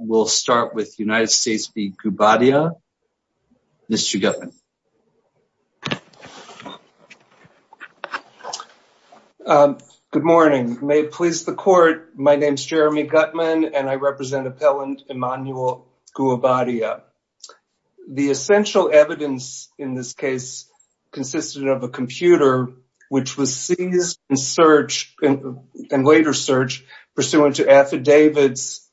We'll start with United States v. Goubadia. Mr. Guttman. Good morning. May it please the court, my name is Jeremy Guttman and I represent Appellant Emmanuel Goubadia. The essential evidence in this case consisted of a computer which was used in search and later search pursuant to affidavits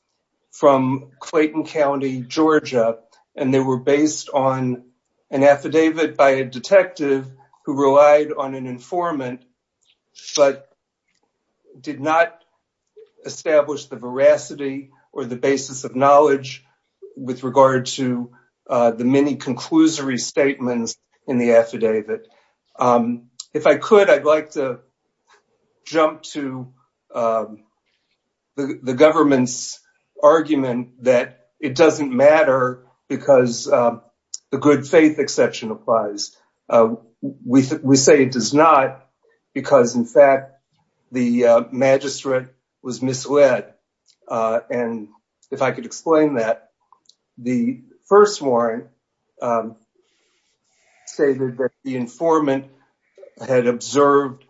from Clayton County, Georgia, and they were based on an affidavit by a detective who relied on an informant but did not establish the veracity or the basis of knowledge with regard to the many conclusory statements in the affidavit. If I could, I'd like to jump to the government's argument that it doesn't matter because the good faith exception applies. We say it does not because, in fact, the magistrate was misled. If I could explain that, the first warrant stated that the informant had observed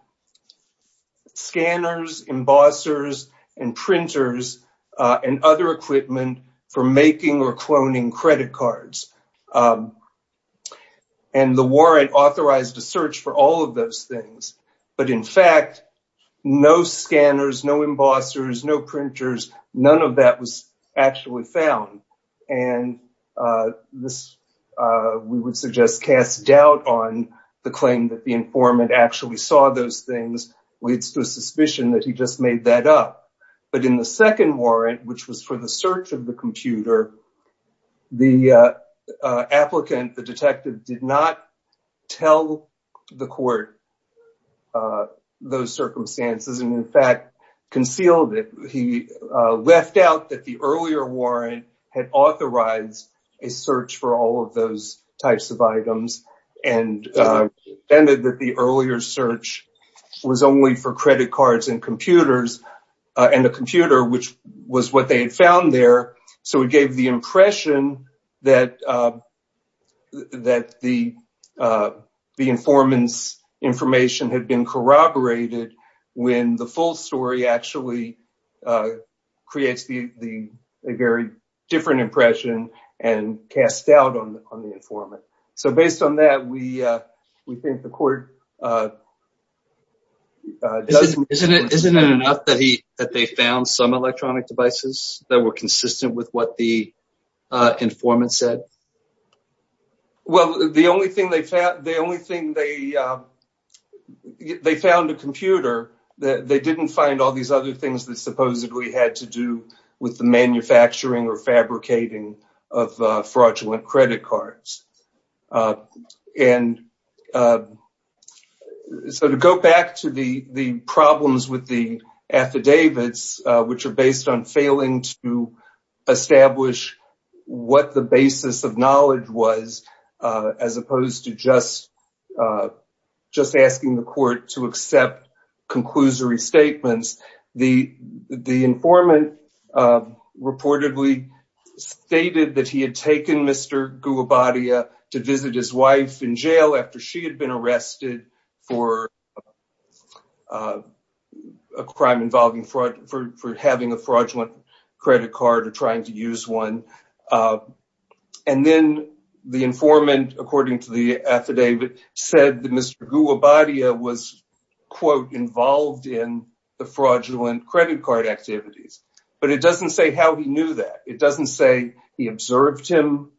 scanners, embossers, and printers, and other equipment for making or cloning credit cards. And the warrant authorized a search for all of those things, but in fact, no scanners, no embossers, no printers, none of that was actually found. And we would suggest cast doubt on the claim that the informant actually saw those things. It's the suspicion that he just made that up. But in the second warrant, which was for the search of the computer, the applicant, the detective, did not tell the court those circumstances and, in fact, concealed it. He left out that the earlier warrant had authorized a search for all of those types of items and defended that the earlier search was only for credit cards and computers and a computer, which was what they had found there. So it gave the impression that the informant's information had been corroborated when the full story actually creates a very different impression and cast doubt on the informant. So based on that, we that they found some electronic devices that were consistent with what the informant said? Well, the only thing they found, they found a computer. They didn't find all these other things that supposedly had to do with the manufacturing or fabricating of fraudulent affidavits, which are based on failing to establish what the basis of knowledge was, as opposed to just asking the court to accept conclusory statements. The informant reportedly stated that he had taken Mr. Gugabadia to visit his wife in jail after she had been arrested for a crime involving fraud, for having a fraudulent credit card or trying to use one. And then the informant, according to the affidavit, said that Mr. Gugabadia was quote, involved in the fraudulent credit card activities. But it doesn't say how he knew that. It doesn't say he observed him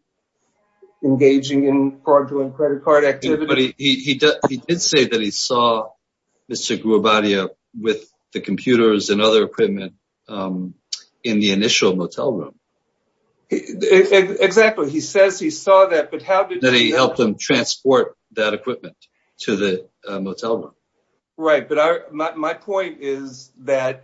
engaging in fraudulent credit card activity. He did say that he saw Mr. Gugabadia with the computers and other equipment in the initial motel room. Exactly. He says he saw that, but how did he help him transport that equipment to the motel room? Right. But my point is that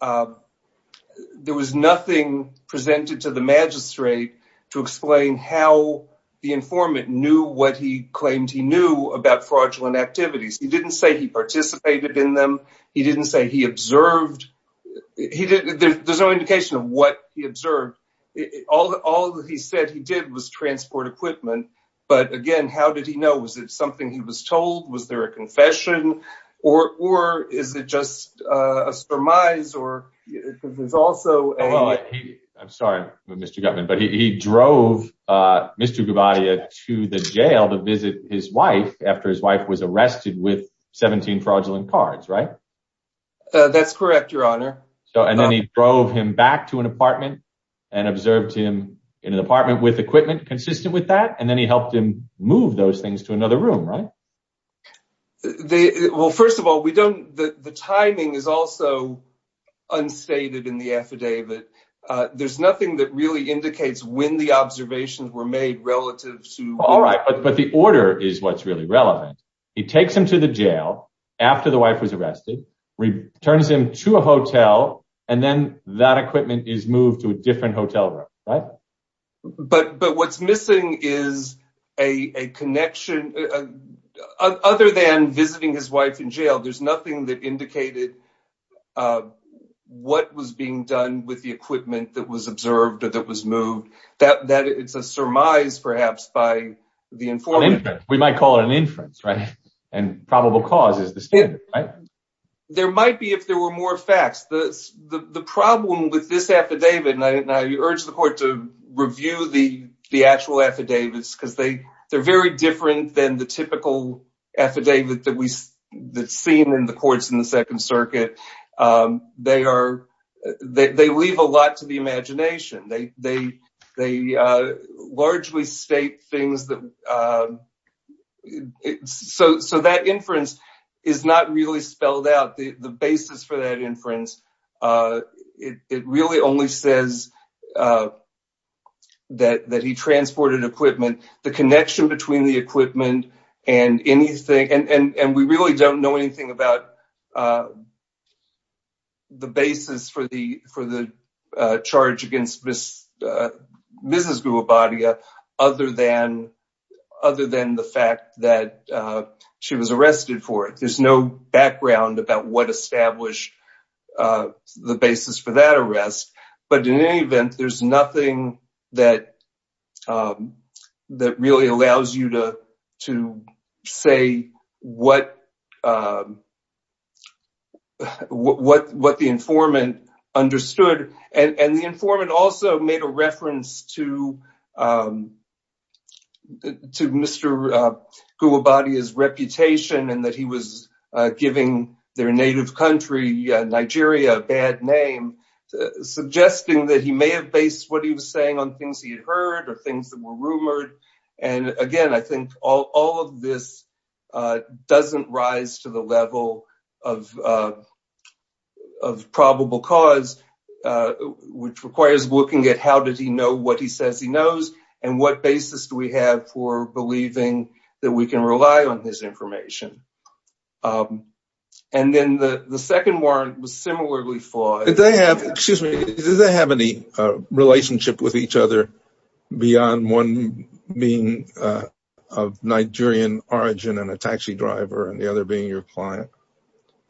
there was nothing presented to the magistrate to explain how the informant knew what he claimed he knew about fraudulent activities. He didn't say he participated in them. He didn't say he observed. There's no indication of what he observed. All he said he did was transport equipment. But again, how did he know? Was it something he was told? Was there a confession? Or is it just a surmise? I'm sorry, Mr. Gutman, but he drove Mr. Gugabadia to the jail to visit his wife after his wife was arrested with 17 fraudulent cards, right? That's correct, your honor. So and then he drove him back to an apartment and observed him in an apartment with equipment consistent with that. And then he helped him move those things to another room, right? They well, first of all, we don't the timing is also unstated in the affidavit. There's nothing that really indicates when the observations were made relative to. All right. But the order is what's really relevant. He takes him to the jail after the wife was arrested, returns him to a hotel, and then that equipment is moved to a different hotel room. Right. But but what's is a connection other than visiting his wife in jail. There's nothing that indicated what was being done with the equipment that was observed, that was moved, that it's a surmise, perhaps, by the informant. We might call it an inference. Right. And probable cause is this. There might be if there were more facts. The problem with this affidavit, and I urge the actual affidavits because they they're very different than the typical affidavit that we seen in the courts in the Second Circuit. They are they leave a lot to the imagination. They largely state things that so so that inference is not really spelled out. The basis for that he transported equipment, the connection between the equipment and anything. And we really don't know anything about. The basis for the for the charge against this, this is good body other than other than the fact that she was arrested for it, there's no background about what established the basis for that arrest. But in any event, there's nothing that that really allows you to to say what what what the informant understood. And the informant also made a reference to to Mr. Guwabati his reputation and that he was giving their native country, Nigeria, bad name, suggesting that he may have based what he was saying on things he had heard or things that were rumored. And again, I think all of this doesn't rise to the level of of probable cause, which requires looking at how did he know what he says he knows and what basis do we have for believing that we can rely on this information. And then the second one was similarly flawed. Did they have excuse me, did they have any relationship with each other beyond one being of Nigerian origin and a taxi driver and the other being your client?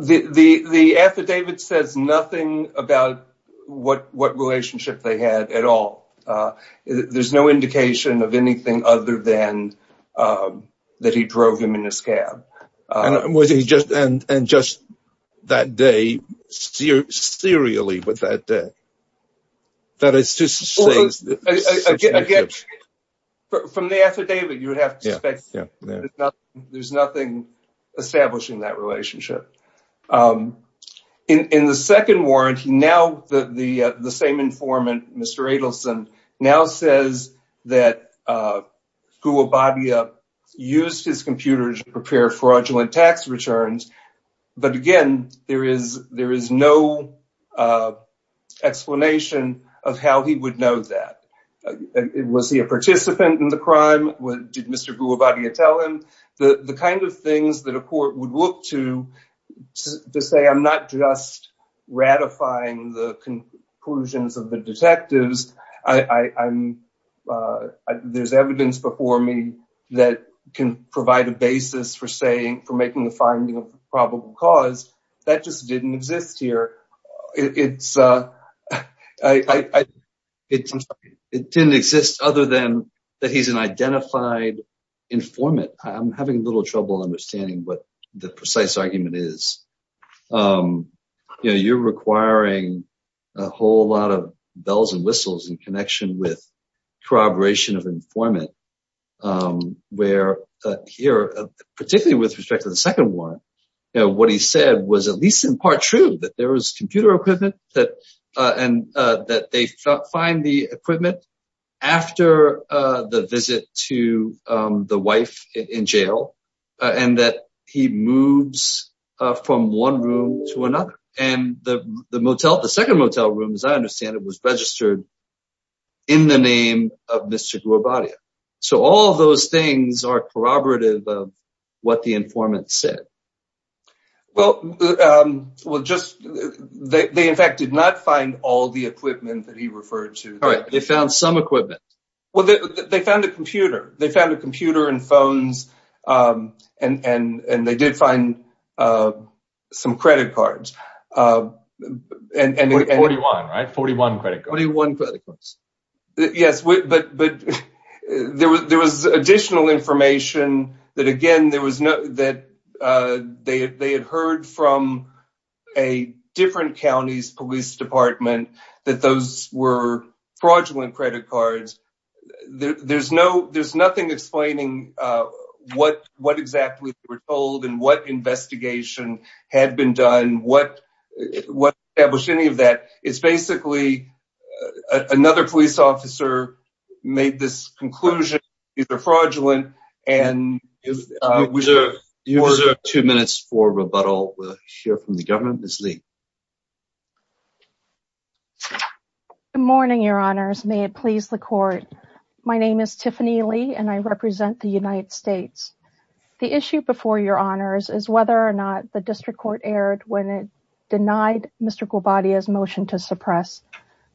The the the affidavit says nothing about what what relationship they had at all. There's no indication of anything other than that he drove him in a scab. Was he just and and just that day, seriously with that? That is just a guess from the affidavit. You would have to expect there's nothing establishing that relationship in the second war. And now the same informant, Mr. Adelson, now says that Guwabati used his computer to prepare fraudulent tax returns. But again, there is there is no explanation of how he would know that. Was he a participant in the crime? What did Mr. Guwabati tell him? The kind of things that a court would look to to say, I'm not just ratifying the conclusions of the detectives. I'm there's evidence before me that can provide a basis for saying for making a finding of probable cause that just didn't exist here. It didn't exist other than that he's an identified informant. I'm having a little trouble understanding what the precise argument is. You're requiring a whole lot of bells and whistles in connection with corroboration of informant where here, particularly with respect to the second one, what he said was at least in part true that there was computer equipment that and that they find the equipment after the visit to the wife in jail and that he moves from one room to another. And the motel, the second motel room, as I understand it, was registered in the name of Mr. Guwabati. So all those things are corroborative of what the informant said. Well, they in fact did not find all the equipment that he referred to. All right. They found some equipment. Well, they found a computer. They found a computer and phones and they did find some credit cards. Forty-one, right? Forty-one credit cards. Forty-one credit cards. Yes, but there was additional information that, again, they had heard from a different county's police department that those were fraudulent credit cards. There's nothing explaining what exactly they were told and what investigation had been done, what established any of that. It's basically another police officer made this conclusion. These are fraudulent. You deserve two minutes for rebuttal. We'll My name is Tiffany Lee and I represent the United States. The issue before your honors is whether or not the district court erred when it denied Mr. Guwabati's motion to suppress,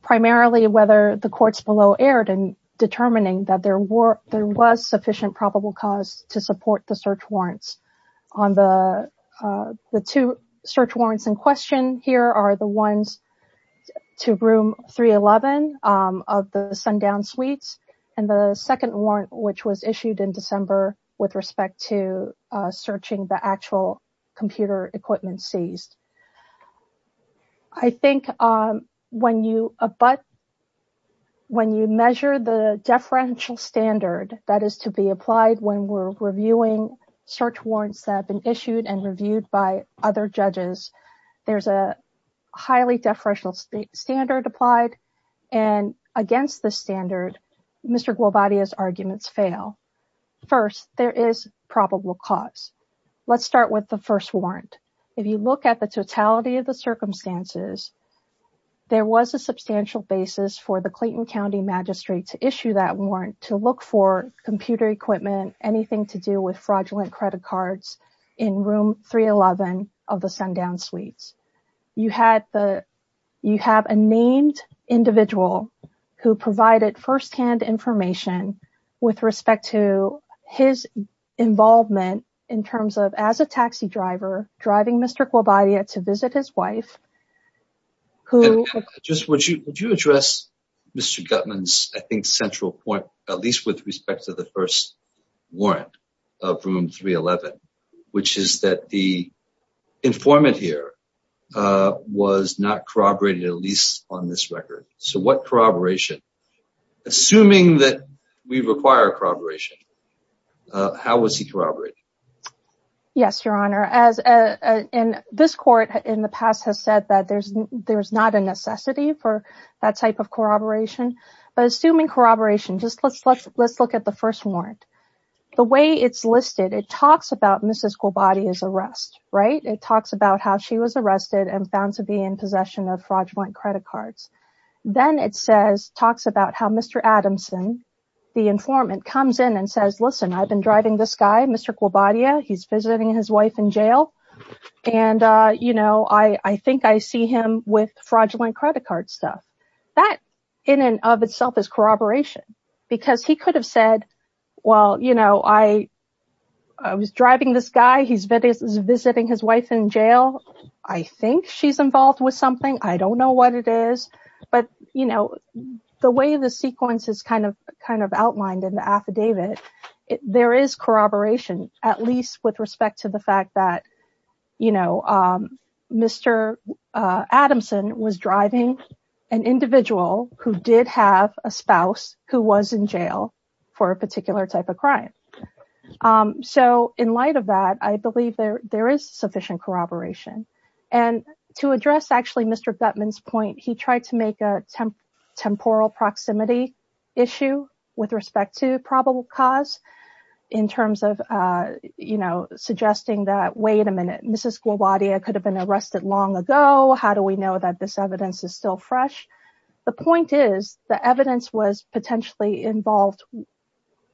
primarily whether the courts below erred in determining that there was sufficient probable cause to support the search warrants. On the two search warrants in question, here are the ones to room 311 of the sundown suites and the second warrant which was issued in December with respect to searching the actual computer equipment seized. I think when you measure the deferential standard that is to be applied when we're reviewing search warrants that have been issued and reviewed by other judges, there's a highly deferential standard applied and against the standard, Mr. Guwabati's arguments fail. First, there is probable cause. Let's start with the first warrant. If you look at the totality of the circumstances, there was a substantial basis for the Clayton equipment, anything to do with fraudulent credit cards in room 311 of the sundown suites. You have a named individual who provided first-hand information with respect to his involvement in terms of as a taxi driver driving Mr. Guwabati to visit his wife. Would you address Mr. Guttman's central point, at least with respect to the first warrant of room 311, which is that the informant here was not corroborated, at least on this record. So what corroboration? Assuming that we require corroboration, how was he corroborated? Yes, Your Honor. This court in the past has said that there's not a necessity for that type of corroboration, but assuming corroboration, let's look at the first warrant. The way it's listed, it talks about Mrs. Guwabati's arrest. It talks about how she was arrested and found to be in possession of fraudulent credit cards. Then it talks about how Mr. Adamson, the informant, comes in and says, listen, I've been driving this guy, Mr. Guwabati. He's visiting his wife in jail, and I think I see him with fraudulent credit card stuff. That in and of itself is corroboration because he could have said, well, I was driving this guy. He's visiting his wife in jail. I think she's involved with something. I don't know what it is, but the way the sequence is outlined in the affidavit, there is corroboration, at least with respect to the fact that Mr. Adamson was driving an individual who did have a spouse who was in jail for a particular type of crime. In light of that, I believe there is sufficient corroboration. To address Mr. Guttman's point, he tried to make a temporal proximity issue with respect to probable cause in terms of, you know, suggesting that, wait a minute, Mrs. Guwabati could have been arrested long ago. How do we know that this evidence is still fresh? The point is the evidence was potentially involved,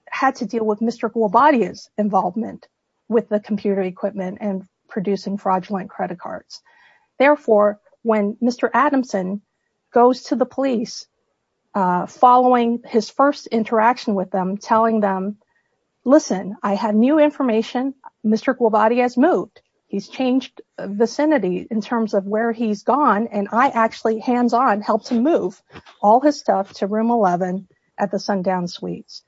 had to deal with Mr. Guwabati's involvement with the computer equipment and producing fraudulent credit cards. Therefore, when Mr. Adamson goes to the police following his first interaction with them, telling them, listen, I have new information. Mr. Guwabati has moved. He's changed vicinity in terms of where he's gone, and I actually, hands on, helped him move all his stuff to room 11 at the Sundown Suites.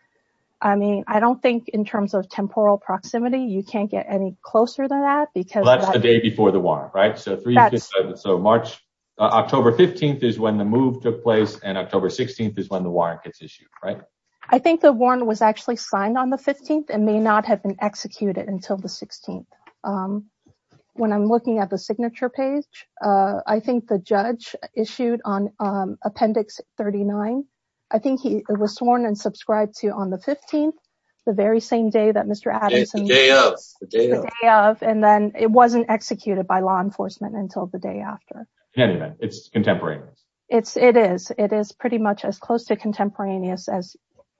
I mean, I don't think in terms of temporal proximity, you can't get any closer than that. That's the day before the warrant, right? October 15th is when the move took place, and October 16th is when the warrant gets issued, right? I think the warrant was actually signed on the 15th and may not have been executed until the 16th. When I'm looking at the signature page, I think the judge issued on the 15th, the very same day that Mr. Adamson moved, and then it wasn't executed by law enforcement until the day after. Anyway, it's contemporaneous. It is. It is pretty much as close to contemporaneous as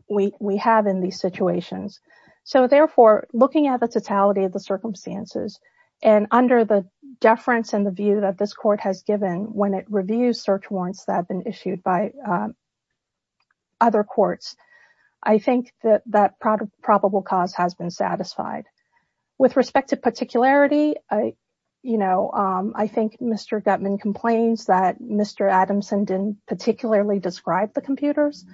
we have in these situations. So therefore, looking at the totality of the circumstances and under the deference and the view that this court has given when it reviews search warrants that have been issued by other courts, I think that that probable cause has been satisfied. With respect to particularity, you know, I think Mr. Guttman complains that Mr. Adamson didn't particularly describe the computers,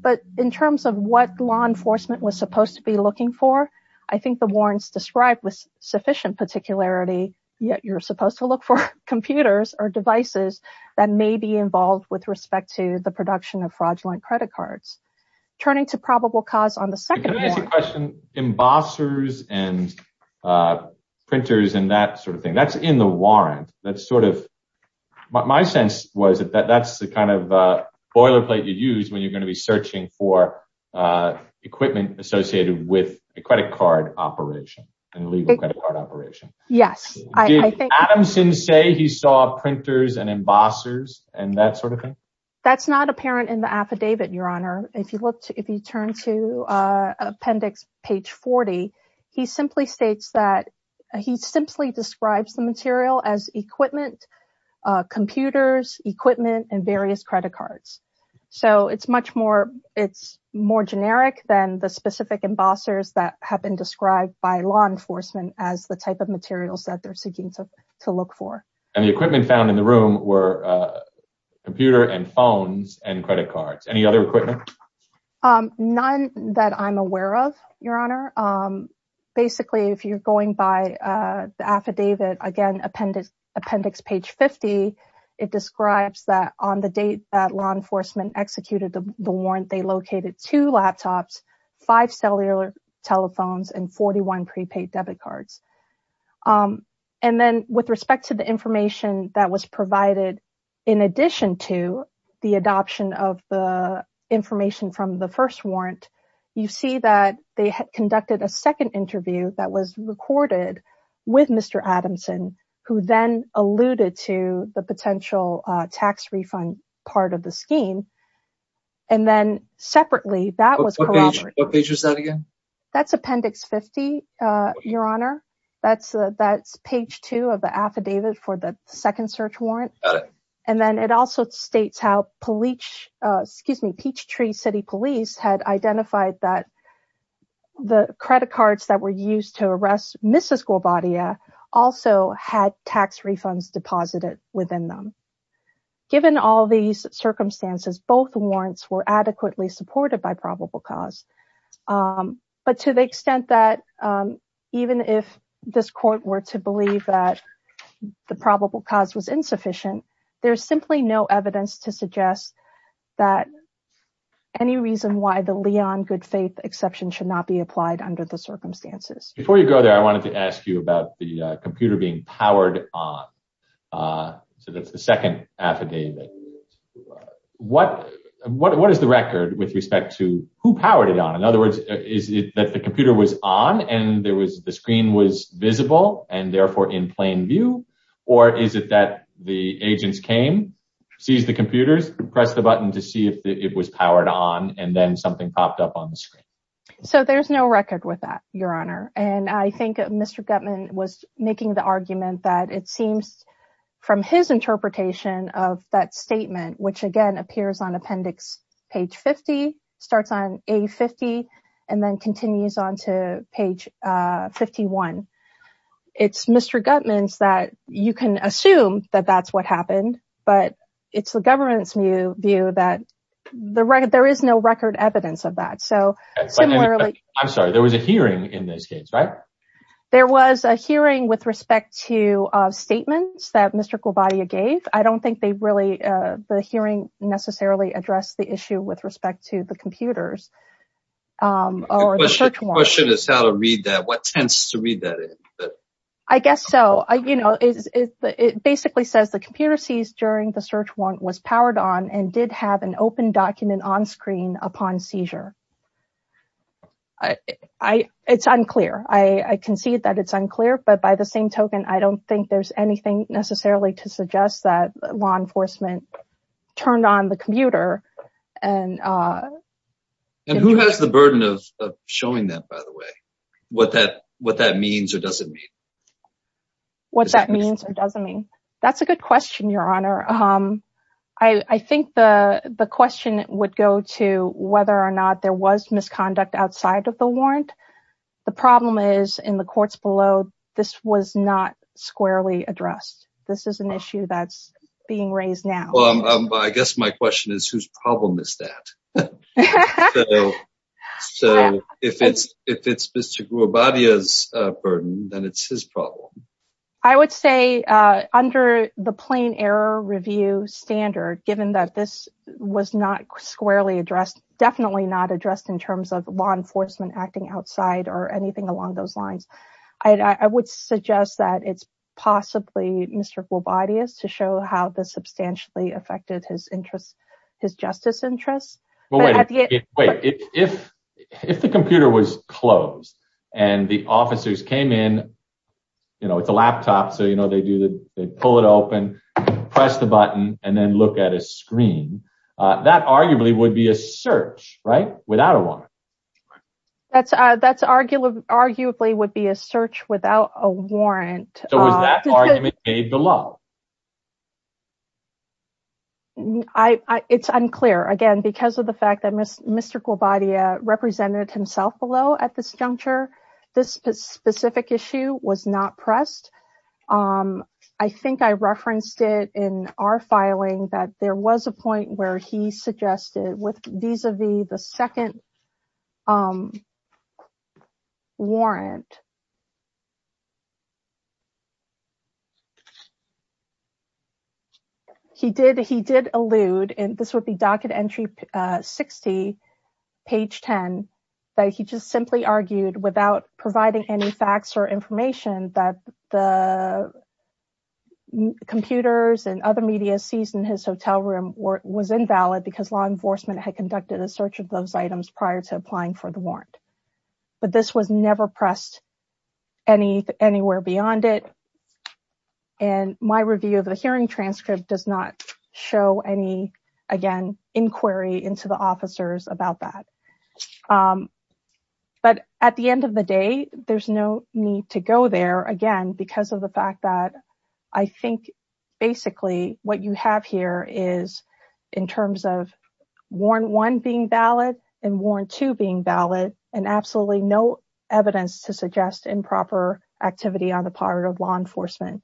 but in terms of what law enforcement was supposed to be looking for, I think the warrants described with sufficient particularity, yet you're supposed to look for computers or devices that may be involved with respect to the production of fraudulent credit cards. Turning to probable cause on the second question, embossers and printers and that sort of thing, that's in the warrant. That's sort of my sense was that that's the kind of boilerplate you use when you're going to be searching for equipment associated with a operation, an illegal credit card operation. Yes. Did Adamson say he saw printers and embossers and that sort of thing? That's not apparent in the affidavit, Your Honor. If you look, if you turn to appendix page 40, he simply states that he simply describes the material as equipment, computers, equipment, and various credit cards. So it's much more, it's more generic than the law enforcement as the type of materials that they're seeking to look for. And the equipment found in the room were computer and phones and credit cards. Any other equipment? None that I'm aware of, Your Honor. Basically, if you're going by the affidavit, again, appendix page 50, it describes that on the date that law enforcement executed the warrant, they located two laptops, five cellular telephones, and 41 prepaid debit cards. And then with respect to the information that was provided, in addition to the adoption of the information from the first warrant, you see that they had conducted a second interview that was recorded with Mr. Adamson, who then alluded to the potential tax refund part of the scheme. And then separately, that was corroborated. What page was that again? That's appendix 50, Your Honor. That's page two of the affidavit for the second search warrant. Got it. And then it also states how Peachtree City Police had identified that the credit cards that were used to arrest Mrs. Gwabadia also had tax refunds deposited within them. Given all these circumstances, both warrants were adequately supported by probable cause. But to the extent that even if this court were to believe that the probable cause was insufficient, there's simply no evidence to suggest that any reason why the Leon good faith exception should not be applied under the circumstances. Before you go there, I wanted to ask you about the computer being powered on. So that's the record with respect to who powered it on. In other words, is it that the computer was on and there was the screen was visible and therefore in plain view? Or is it that the agents came, seize the computers, press the button to see if it was powered on and then something popped up on the screen? So there's no record with that, Your Honor. And I think Mr. Gutman was making the argument that it seems from his interpretation of that statement, which again appears on appendix page 50 starts on a 50 and then continues on to page 51. It's Mr. Gutman's that you can assume that that's what happened. But it's the government's new view that the record, there is no record evidence of that. So similarly, I'm sorry, there was a hearing in this case, right? There was a hearing with respect to statements that Mr. Gwabadia gave. I don't think they really, the hearing necessarily addressed the issue with respect to the computers. The question is how to read that. What tends to read that? I guess so. It basically says the computer seized during the search warrant was powered on and did have an open document on screen upon seizure. It's unclear. I concede that it's unclear, but by the same token, I don't think there's anything necessarily to suggest that law enforcement turned on the computer. And who has the burden of showing that, by the way, what that means or doesn't mean. What that means or doesn't mean. That's a good question, Your Honor. I think the question would go to whether or not there was misconduct outside of the warrant. The problem is in the courts below, this was not squarely addressed. This is an issue that's being raised now. Well, I guess my question is whose problem is that? So if it's Mr. Gwabadia's burden, then it's his problem. I would say under the plain error review standard, given that this was not squarely addressed, definitely not addressed in terms of law enforcement acting outside or anything along those lines, I would suggest that it's how this substantially affected his interest, his justice interests. Wait, if the computer was closed and the officers came in, you know, it's a laptop, so, you know, they pull it open, press the button, and then look at a screen, that arguably would be a search, right? Without a warrant. So was that argument made below? It's unclear. Again, because of the fact that Mr. Gwabadia represented himself below at this juncture, this specific issue was not pressed. I think I referenced it in our filing that there was a point where he suggested vis-a-vis the second warrant. He did allude, and this would be docket entry 60, page 10, that he just simply argued without providing any facts or information that the computers and other media seized in his hotel room was invalid because law enforcement had conducted a search of those items prior to applying for the warrant. But this was never pressed anywhere beyond it, and my review of the hearing transcript does not show any, again, inquiry into the officers about that. But at the end of the day, there's no need to go there, again, because of the fact that I think basically what you have here is in terms of warrant one being valid and warrant two being valid, and absolutely no evidence to suggest improper activity on the part of law enforcement.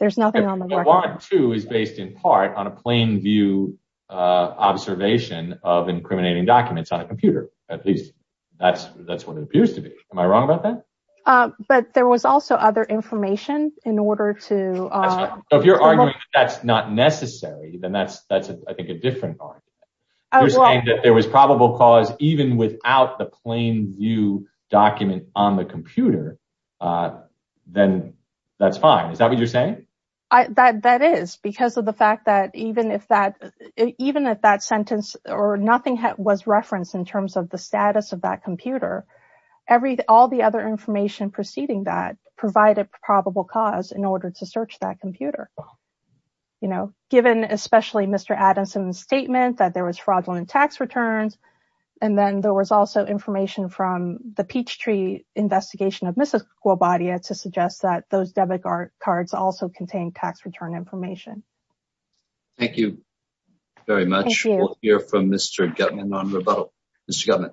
There's nothing on the record. Warrant two is based in part on a plain view observation of incriminating documents on a computer. At least that's what it appears to be. Am I wrong about that? But there was also other information in order to... So if you're arguing that's not necessary, then that's, I think, a different argument. You're saying that there was probable cause even without the plain view document on the computer, then that's fine. Is that what you're saying? That is, because of the fact that even if that sentence or nothing was referenced in terms of the status of that computer, all the other information preceding that provided probable cause in order to search that computer. Given especially Mr. Adamson's statement that there was fraudulent tax returns, and then there was also information from the Peachtree Investigation of Mrs. Guabadia to suggest that those debit cards also contained tax return information. Thank you very much. We'll hear from Mr. Guttman on rebuttal. Mr.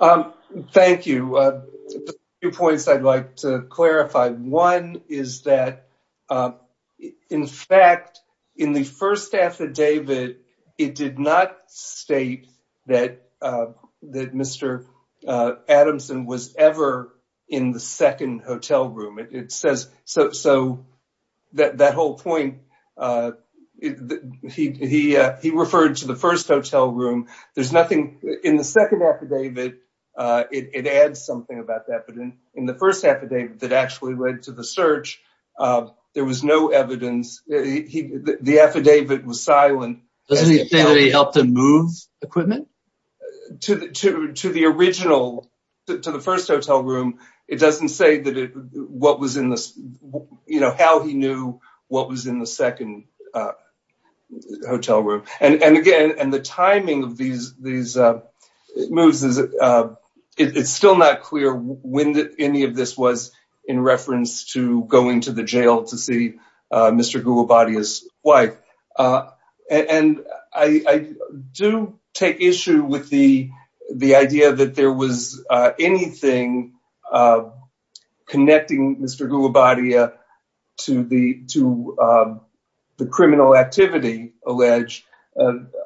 Guttman. Thank you. Two points I'd like to clarify. One is that, in fact, in the first affidavit, it did not state that Mr. Adamson was ever in the second hotel room. So that whole point, he referred to the first hotel room. In the second affidavit, it adds something about that, but in the first affidavit that actually led to the search, there was no evidence. The affidavit was silent. Doesn't he say that he helped him move equipment? To the original, to the first hotel room, it doesn't say how he knew what was in the second hotel room. And again, the timing of these moves, it's still not clear when any of this was in reference to going to the jail to see Mr. Guabadia's wife. And I do take issue with the idea that there was anything connecting Mr. Guabadia to the criminal activity alleged.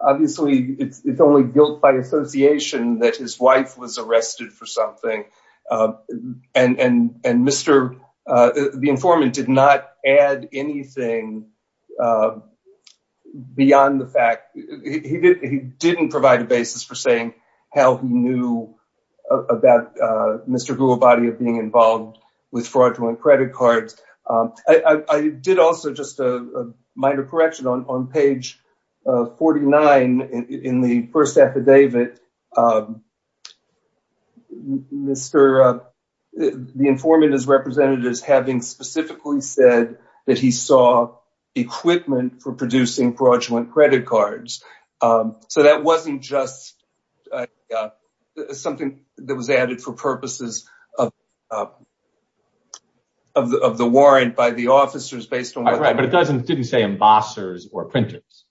Obviously, it's only guilt by association that his wife was arrested for something. And the informant did not add anything beyond the fact. He didn't provide a basis for saying how he knew about Mr. Guabadia being involved with fraudulent credit cards. I did also, just a minor correction, on page 49 in the first affidavit, the informant is represented as having specifically said that he saw equipment for producing fraudulent credit cards. So that wasn't just something that was added for purposes of the warrant by the officers based on didn't say embossers or printers.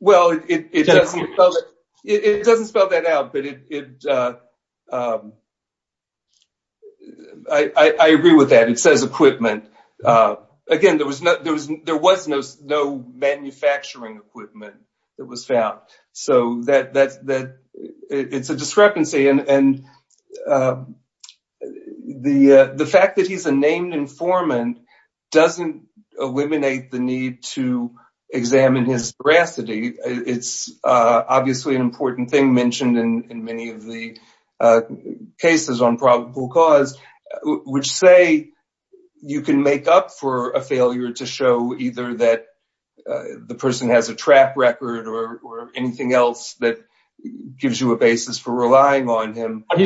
Well, it doesn't spell that out. I agree with that. It says equipment. Again, there was no manufacturing equipment that was found. So it's a discrepancy. And the fact that he's a named informant doesn't eliminate the need to examine his veracity. It's obviously an important thing mentioned in many of the cases on probable cause, which say you can make up for a failure to show either that the person has a track record or anything else that he's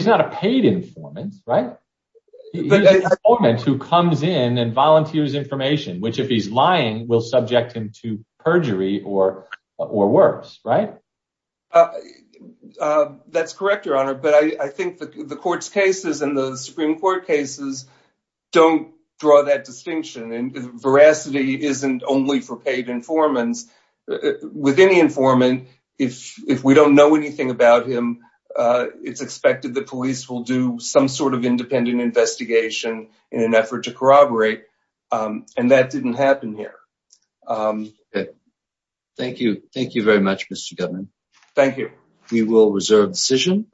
not a paid informant, right? He's an informant who comes in and volunteers information, which if he's lying, will subject him to perjury or worse, right? That's correct, Your Honor. But I think the court's cases and the Supreme Court cases don't draw that distinction. And veracity isn't only for paid informants. With any informant, if we don't know anything about him, it's expected the police will do some sort of independent investigation in an effort to corroborate. And that didn't happen here. Thank you. Thank you very much, Mr. Goodman. Thank you. We will reserve decision.